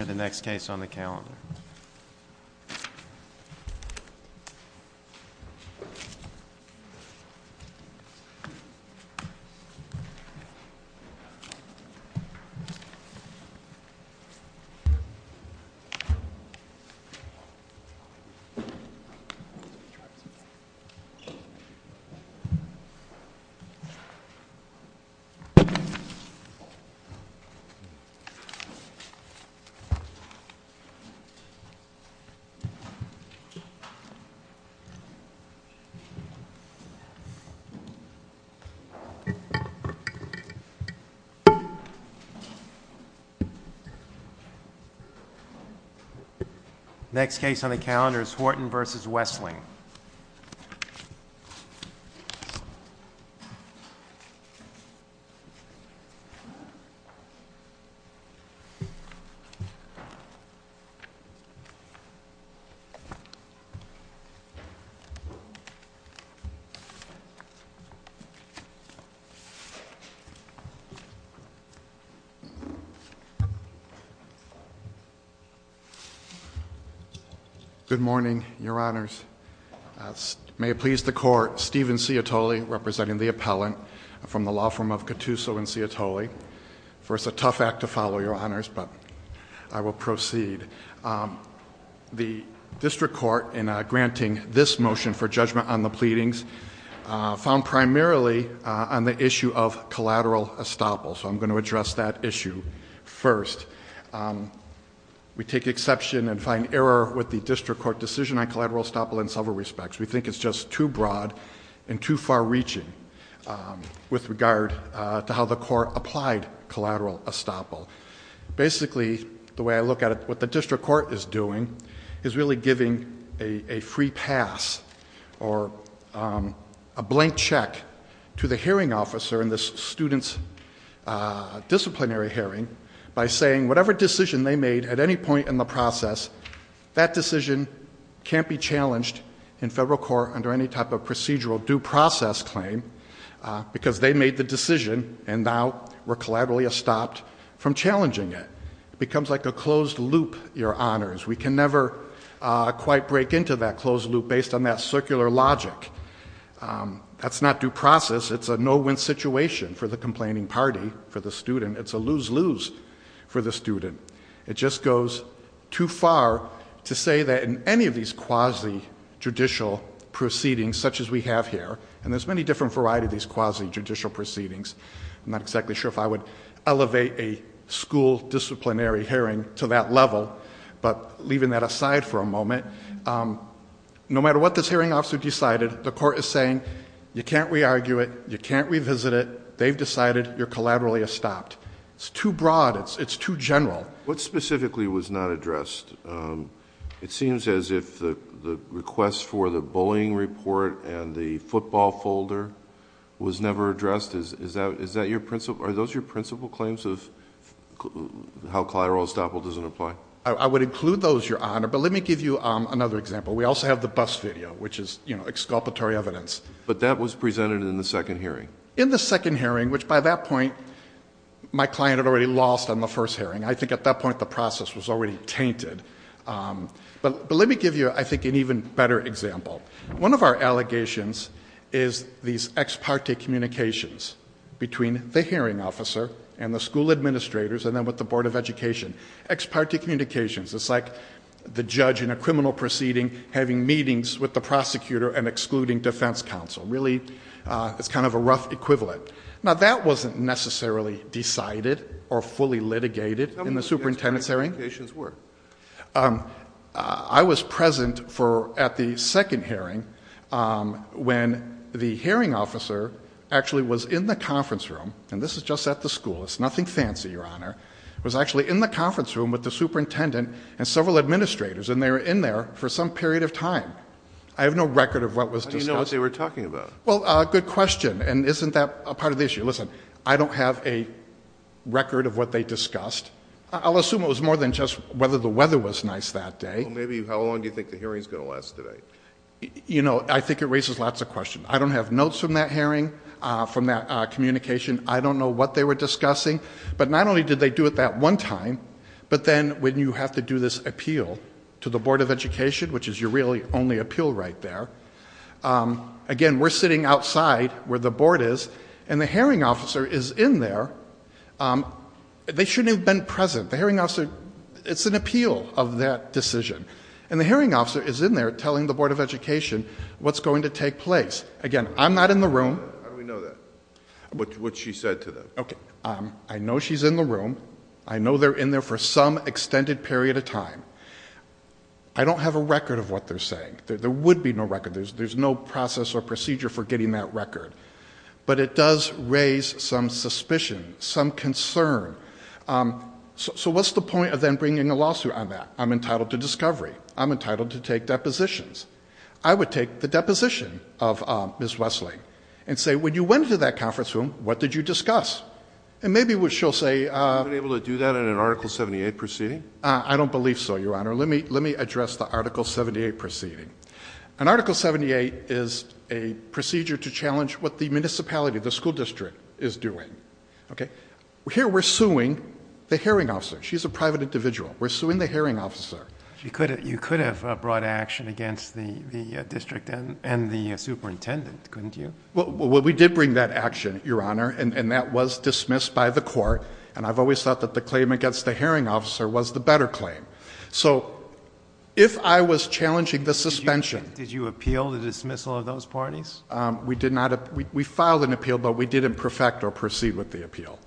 e Giloros. Next case on the count is Horton versus Wesseling. Good morning, your honors. May it please the court, Steven Ciotoli representing the appellant from the law firm of Catooso and Ciotoli. It's a tough act to follow, your honors, but I will proceed. The district court in granting this motion for judgment on the pleadings found primarily on the issue of collateral estoppel, so I'm going to address that issue first. We take exception and find error with the district court decision on collateral estoppel in several respects. We think it's just too broad and too far reaching with regard to how the court applied collateral estoppel. Basically the way I look at it, what the district court is doing is really giving a free pass or a blank check to the hearing officer in the student's disciplinary hearing by saying whatever decision they made at any point in the process, that decision can't be challenged in federal court under any type of procedural due process claim because they made the decision and now we're collaterally estopped from challenging it. It becomes like a closed loop, your honors. We can never quite break into that closed loop based on that circular logic. That's not due process. It's a no-win situation for the complaining party, for the student. It's a lose-lose for the student. It just goes too far to say that in any of these quasi-judicial proceedings such as we have here, and there's many different varieties of these quasi-judicial proceedings, I'm not exactly sure if I would elevate a school disciplinary hearing to that level, but leaving that aside for a moment, no matter what this hearing officer decided, the court is saying you can't re-argue it, you can't revisit it, they've decided, you're collaterally estopped. It's too broad, it's too general. What specifically was not addressed? It seems as if the request for the bullying report and the football folder was never addressed. Are those your principal claims of how collateral estoppel doesn't apply? I would include those, your honor, but let me give you another example. We also have the bus video, which is exculpatory evidence. But that was presented in the second hearing. In the second hearing, which by that point, my client had already lost on the first hearing. I think at that point the process was already tainted. But let me give you, I think, an even better example. One of our allegations is these ex parte communications between the hearing officer and the school administrators and then with the Board of Education. Ex parte communications, it's like the judge in a criminal proceeding having meetings with the prosecutor and excluding defense counsel. Really, it's kind of a rough equivalent. Now that wasn't necessarily decided or fully litigated in the superintendent's hearing. How many ex parte communications were? I was present at the second hearing when the hearing officer actually was in the conference room. And this is just at the school, it's nothing fancy, your honor. Was actually in the conference room with the superintendent and several administrators. And they were in there for some period of time. I have no record of what was discussed. Well, good question. And isn't that a part of the issue? Listen, I don't have a record of what they discussed. I'll assume it was more than just whether the weather was nice that day. Maybe how long do you think the hearing is going to last today? You know, I think it raises lots of questions. I don't have notes from that hearing, from that communication. I don't know what they were discussing. But not only did they do it that one time, but then when you have to do this appeal to the Board of Education, which is your really only appeal right there, again, we're sitting outside where the board is. And the hearing officer is in there, they shouldn't have been present. The hearing officer, it's an appeal of that decision. And the hearing officer is in there telling the Board of Education what's going to take place. Again, I'm not in the room. How do we know that? What she said to them. Okay, I know she's in the room. I know they're in there for some extended period of time. I don't have a record of what they're saying. There would be no record. There's no process or procedure for getting that record. But it does raise some suspicion, some concern. So what's the point of then bringing a lawsuit on that? I'm entitled to discovery. I'm entitled to take depositions. I would take the deposition of Ms. Wesley and say, when you went into that conference room, what did you discuss? And maybe she'll say- Have you been able to do that in an Article 78 proceeding? I don't believe so, Your Honor. Let me address the Article 78 proceeding. An Article 78 is a procedure to challenge what the municipality, the school district, is doing. Okay? Here we're suing the hearing officer. She's a private individual. We're suing the hearing officer. You could have brought action against the district and the superintendent, couldn't you? Well, we did bring that action, Your Honor, and that was dismissed by the court. And I've always thought that the claim against the hearing officer was the better claim. So if I was challenging the suspension- Did you appeal the dismissal of those parties? We filed an appeal, but we didn't perfect or proceed with the appeal.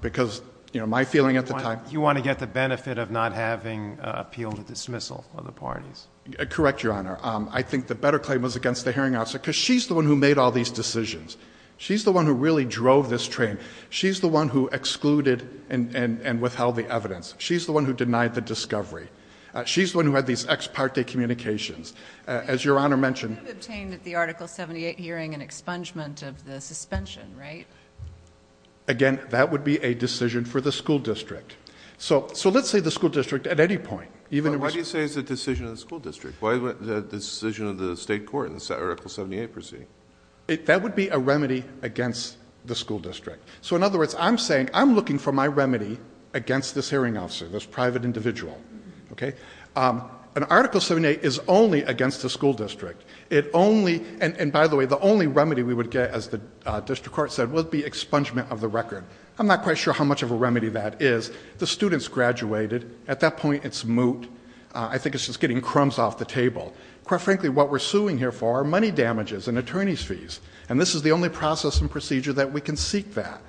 Because my feeling at the time- You want to get the benefit of not having appealed the dismissal of the parties. Correct, Your Honor. I think the better claim was against the hearing officer, because she's the one who made all these decisions. She's the one who really drove this train. She's the one who excluded and withheld the evidence. She's the one who denied the discovery. She's the one who had these ex parte communications. As Your Honor mentioned- You could have obtained at the Article 78 hearing an expungement of the suspension, right? Again, that would be a decision for the school district. So let's say the school district at any point, even- Why do you say it's a decision of the school district? Why is it a decision of the state court in the Article 78 proceeding? That would be a remedy against the school district. So in other words, I'm saying I'm looking for my remedy against this hearing officer, this private individual, okay? An Article 78 is only against the school district. It only, and by the way, the only remedy we would get, as the district court said, would be expungement of the record. I'm not quite sure how much of a remedy that is. The student's graduated. At that point, it's moot. I think it's just getting crumbs off the table. Quite frankly, what we're suing here for are money damages and attorney's fees. And this is the only process and procedure that we can seek that.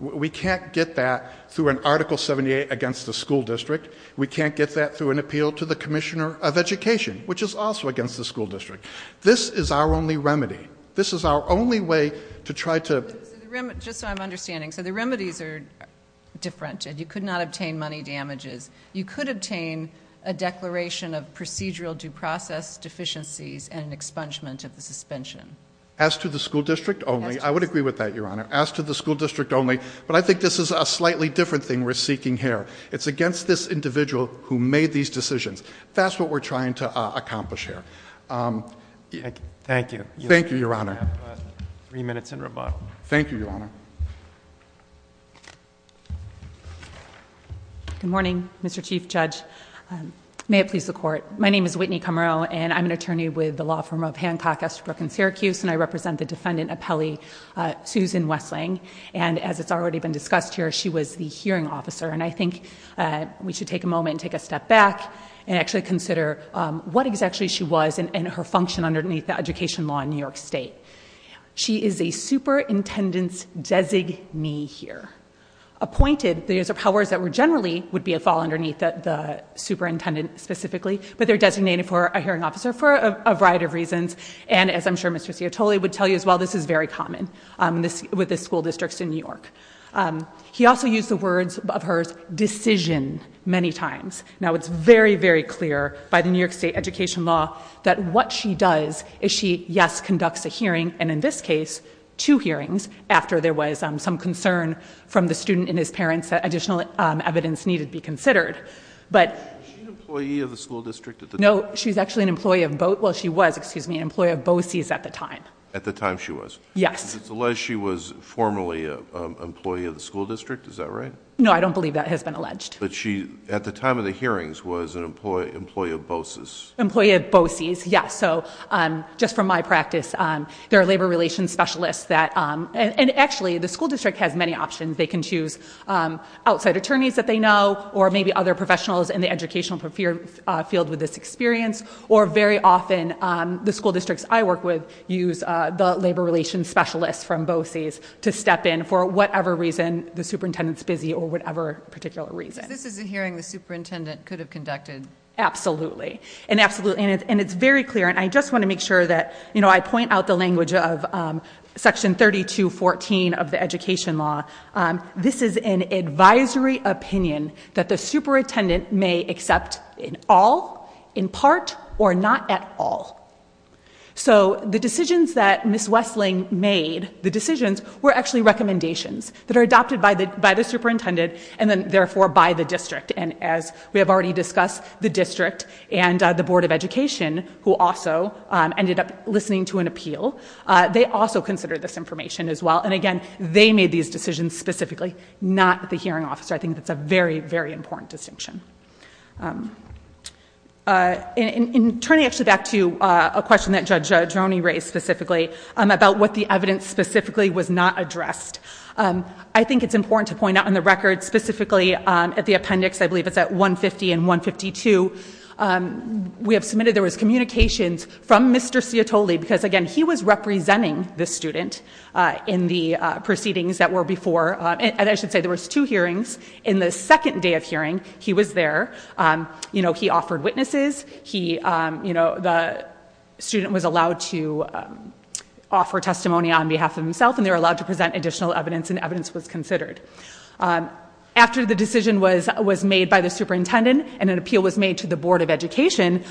We can't get that through an Article 78 against the school district. We can't get that through an appeal to the Commissioner of Education, which is also against the school district. This is our only remedy. This is our only way to try to- Just so I'm understanding. So the remedies are different, and you could not obtain money damages. You could obtain a declaration of procedural due process deficiencies and expungement of the suspension. As to the school district only, I would agree with that, Your Honor. As to the school district only, but I think this is a slightly different thing we're seeking here. It's against this individual who made these decisions. That's what we're trying to accomplish here. Thank you. Thank you, Your Honor. Three minutes in rebuttal. Thank you, Your Honor. Good morning, Mr. Chief Judge. May it please the court. My name is Whitney Camero, and I'm an attorney with the law firm of Hancock, Estabrook, and Syracuse. And I represent the defendant appellee, Susan Westling. And as it's already been discussed here, she was the hearing officer. And I think we should take a moment and take a step back and actually consider what exactly she was and her function underneath the education law in New York State. She is a superintendent's designee here. Appointed, these are powers that generally would be a fall underneath the superintendent specifically, but they're designated for a hearing officer for a variety of reasons. And as I'm sure Mr. Ciotoli would tell you as well, this is very common with the school districts in New York. He also used the words of hers, decision, many times. Now it's very, very clear by the New York State education law that what she does is she, yes, conducts a hearing. And in this case, two hearings after there was some concern from the student and his parents that additional evidence needed to be considered. But- Is she an employee of the school district at the time? No, she's actually an employee of, well she was, excuse me, an employee of BOCES at the time. At the time she was? Yes. It's alleged she was formerly an employee of the school district, is that right? No, I don't believe that has been alleged. But she, at the time of the hearings, was an employee of BOCES. Employee of BOCES, yes, so just from my practice, there are labor relations specialists that, and actually the school district has many options, they can choose outside attorneys that they know, or maybe other professionals in the educational field with this experience, or very often the school districts I work with use the labor relations specialists from BOCES to step in for whatever reason the superintendent's busy or whatever particular reason. So this is a hearing the superintendent could have conducted? Absolutely, and it's very clear, and I just want to make sure that I point out the language of section 3214 of the education law. This is an advisory opinion that the superintendent may accept in all, in part, or not at all. So the decisions that Ms. Wessling made, the decisions, were actually recommendations that are adopted by the superintendent and then therefore by the district, and as we have already discussed, the district and the Board of Education, who also ended up listening to an appeal, they also considered this information as well. And again, they made these decisions specifically, not the hearing officer. I think that's a very, very important distinction. In turning actually back to a question that Judge Roney raised specifically about what the evidence specifically was not addressed. I think it's important to point out on the record, specifically at the appendix, I believe it's at 150 and 152. We have submitted there was communications from Mr. Ciotoli, because again, he was representing the student in the proceedings that were before. And I should say there was two hearings. In the second day of hearing, he was there. He offered witnesses, the student was allowed to offer testimony on behalf of himself, and they were allowed to present additional evidence, and evidence was considered. After the decision was made by the superintendent, and an appeal was made to the Board of Education,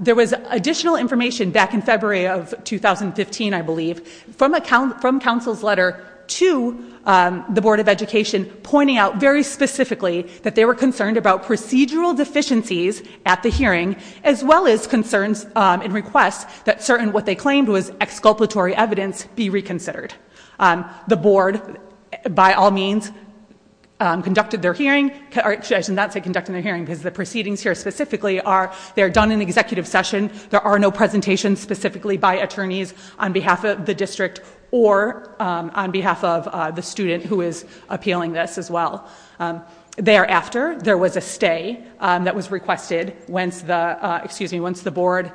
there was additional information back in February of 2015, I believe, from counsel's letter to the Board of Education, pointing out very specifically that they were concerned about procedural deficiencies at the hearing, as well as concerns and requests that certain what they claimed was exculpatory evidence be reconsidered. The board, by all means, conducted their hearing. Actually, I should not say conducted their hearing, because the proceedings here specifically are, they're done in executive session. There are no presentations specifically by attorneys on behalf of the district or on behalf of the student who is appealing this as well. Thereafter, there was a stay that was requested once the, excuse me, once the board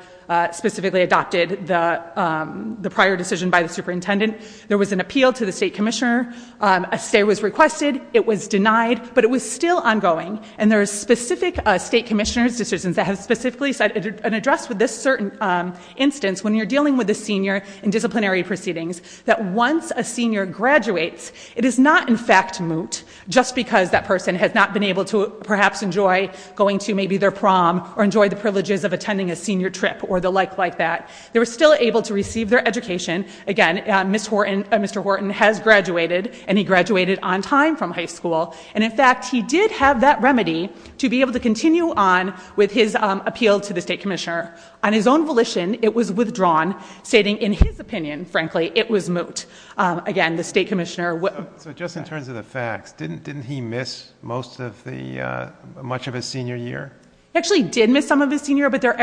specifically adopted the prior decision by the superintendent. There was an appeal to the state commissioner, a stay was requested, it was denied, but it was still ongoing. And there's specific state commissioner's decisions that have specifically said, and addressed with this certain instance, when you're dealing with the senior and disciplinary proceedings, that once a senior graduates, it is not in fact moot, just because that person has not been able to, perhaps, enjoy going to maybe their prom, or enjoy the privileges of attending a senior trip, or the like like that. They were still able to receive their education. Again, Mr. Horton has graduated, and he graduated on time from high school. And in fact, he did have that remedy to be able to continue on with his appeal to the state commissioner. On his own volition, it was withdrawn, stating in his opinion, frankly, it was moot. Again, the state commissioner- So just in terms of the facts, didn't he miss most of the, much of his senior year? Actually did miss some of his senior, but there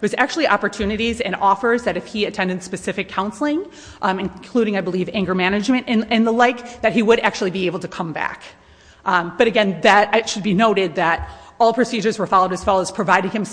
was actually opportunities and offers that if he attended specific counseling, including, I believe, anger management and the like, that he would actually be able to come back. But again, it should be noted that all procedures were followed as far as providing him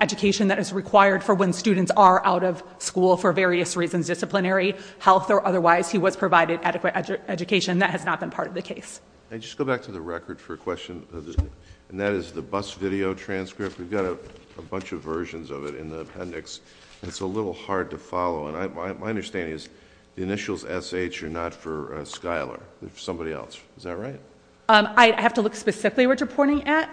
education that is required for when students are out of school for various reasons, disciplinary, health, or otherwise, he was provided adequate education, that has not been part of the case. I just go back to the record for a question, and that is the bus video transcript. We've got a bunch of versions of it in the appendix. It's a little hard to follow, and my understanding is the initials SH are not for Schuyler, they're for somebody else, is that right? I'd have to look specifically at what you're pointing at.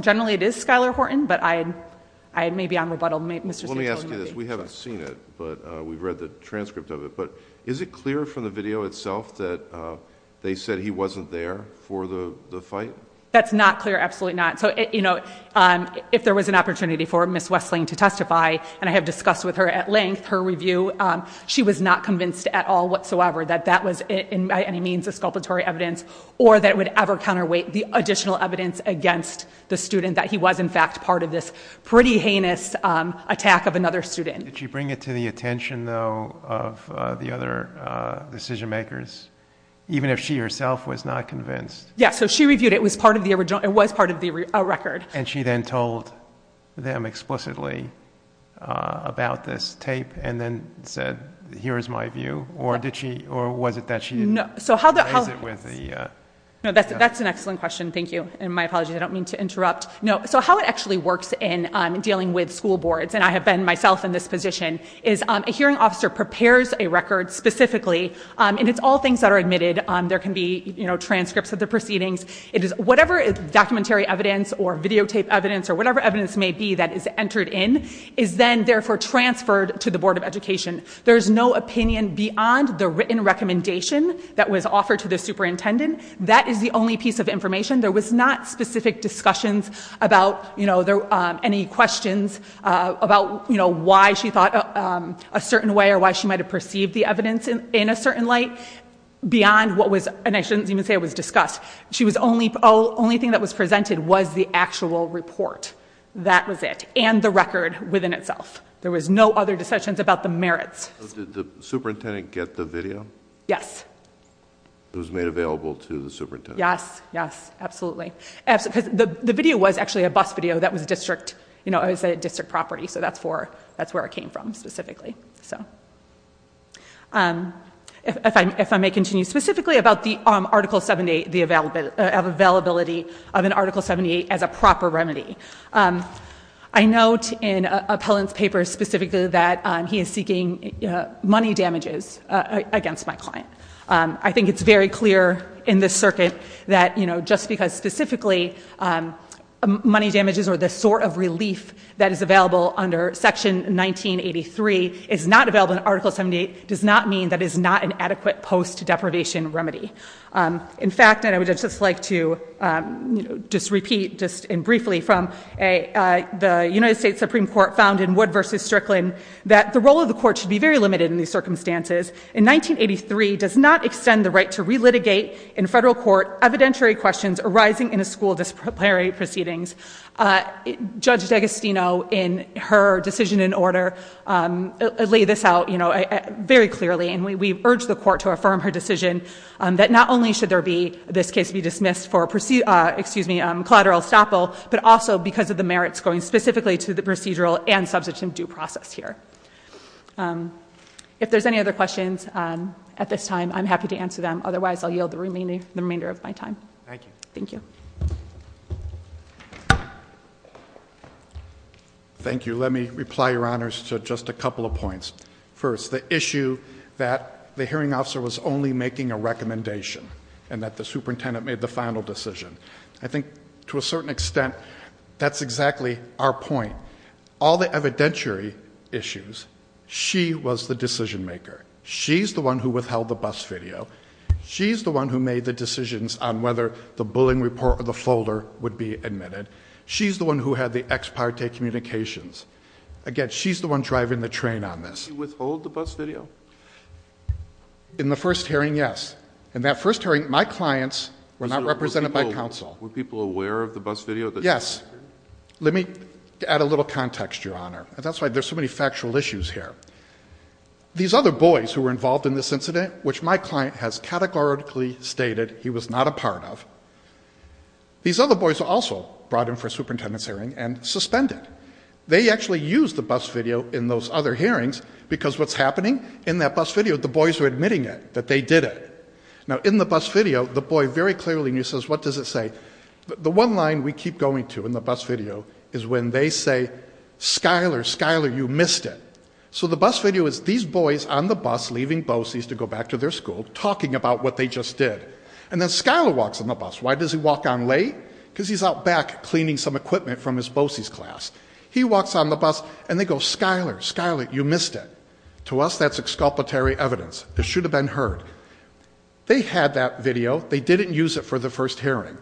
Generally it is Schuyler Horton, but I may be on rebuttal. Mr. Staple- Let me ask you this, we haven't seen it, but we've read the transcript of it, but is it clear from the video itself that they said he wasn't there for the fight? That's not clear, absolutely not. So if there was an opportunity for Ms. Westling to testify, and I have discussed with her at length her review. She was not convinced at all whatsoever that that was by any means a sculptatory evidence, or that it would ever counterweight the additional evidence against the student that he was in fact part of this pretty heinous attack of another student. Did she bring it to the attention though of the other decision makers, even if she herself was not convinced? Yeah, so she reviewed it, it was part of the record. And she then told them explicitly about this tape, and then said, here is my view, or was it that she didn't raise it with the- No, that's an excellent question, thank you, and my apologies, I don't mean to interrupt. No, so how it actually works in dealing with school boards, and I have been myself in this position, is a hearing officer prepares a record specifically, and it's all things that are admitted. There can be transcripts of the proceedings. It is whatever is documentary evidence, or videotape evidence, or whatever evidence may be that is entered in, is then therefore transferred to the Board of Education. There's no opinion beyond the written recommendation that was offered to the superintendent. That is the only piece of information. There was not specific discussions about any questions about why she thought a certain way, or why she might have perceived the evidence in a certain light. Beyond what was, and I shouldn't even say it was discussed. The only thing that was presented was the actual report. That was it, and the record within itself. There was no other discussions about the merits. So did the superintendent get the video? Yes. It was made available to the superintendent. Yes, yes, absolutely, because the video was actually a bus video that was a district property. So that's where it came from specifically, so. If I may continue, specifically about the Article 78, the availability of an Article 78 as a proper remedy. I note in Appellant's paper specifically that he is seeking money damages against my client. I think it's very clear in this circuit that just because specifically money damages or the sort of relief that is available under Section 1983 is not available in Article 78, does not mean that it is not an adequate post-deprivation remedy. In fact, and I would just like to just repeat just and briefly from the United States Supreme Court found in Wood versus Strickland, that the role of the court should be very limited in these circumstances. In 1983, does not extend the right to re-litigate in federal court evidentiary questions arising in a school disciplinary proceedings. Judge D'Agostino, in her decision in order, lay this out very clearly. And we urge the court to affirm her decision that not only should there be, this case be dismissed for collateral estoppel, but also because of the merits going specifically to the procedural and substantive due process here. If there's any other questions at this time, I'm happy to answer them. Otherwise, I'll yield the remainder of my time. Thank you. Thank you. Thank you. Let me reply, your honors, to just a couple of points. First, the issue that the hearing officer was only making a recommendation and that the superintendent made the final decision. I think to a certain extent, that's exactly our point. All the evidentiary issues, she was the decision maker. She's the one who withheld the bus video. She's the one who made the decisions on whether the bullying report or the folder would be admitted. She's the one who had the ex parte communications. Again, she's the one driving the train on this. You withhold the bus video? In the first hearing, yes. In that first hearing, my clients were not represented by counsel. Were people aware of the bus video? Yes. Let me add a little context, your honor. And that's why there's so many factual issues here. These other boys who were involved in this incident, which my client has categorically stated he was not a part of. These other boys also brought in for a superintendent's hearing and suspended. They actually used the bus video in those other hearings, because what's happening? In that bus video, the boys were admitting it, that they did it. Now in the bus video, the boy very clearly says, what does it say? The one line we keep going to in the bus video is when they say, Skyler, Skyler, you missed it. So the bus video is these boys on the bus leaving BOCES to go back to their school, talking about what they just did. And then Skyler walks on the bus. Why does he walk on late? because he's out back cleaning some equipment from his BOCES class. He walks on the bus, and they go, Skyler, Skyler, you missed it. To us, that's exculpatory evidence. It should have been heard. They had that video. They didn't use it for the first hearing.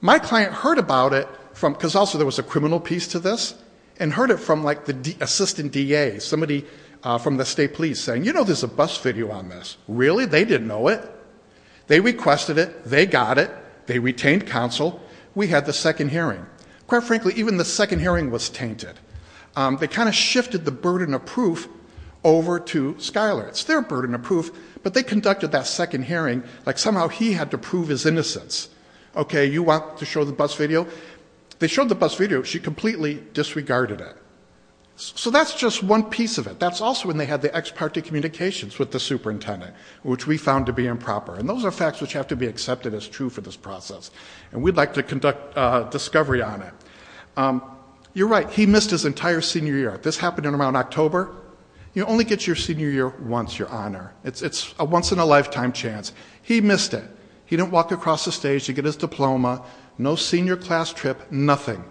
My client heard about it, because also there was a criminal piece to this, and heard it from the assistant DA, somebody from the state police saying, you know there's a bus video on this. Really? They didn't know it. They requested it. They got it. They retained counsel. We had the second hearing. Quite frankly, even the second hearing was tainted. They kind of shifted the burden of proof over to Skyler. It's their burden of proof, but they conducted that second hearing like somehow he had to prove his innocence. Okay, you want to show the bus video? They showed the bus video. She completely disregarded it. So that's just one piece of it. That's also when they had the ex parte communications with the superintendent. Which we found to be improper. And those are facts which have to be accepted as true for this process. And we'd like to conduct discovery on it. You're right, he missed his entire senior year. This happened in around October. You only get your senior year once, your honor. It's a once in a lifetime chance. He missed it. He didn't walk across the stage to get his diploma. No senior class trip, nothing.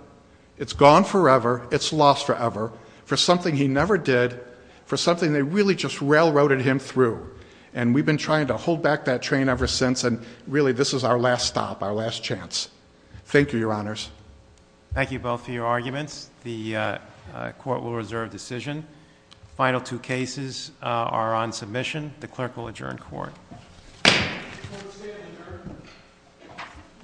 It's gone forever. It's lost forever. For something he never did, for something they really just railroaded him through. And we've been trying to hold back that train ever since. And really this is our last stop, our last chance. Thank you, your honors. Thank you both for your arguments. The court will reserve decision. Final two cases are on submission. The clerk will adjourn court.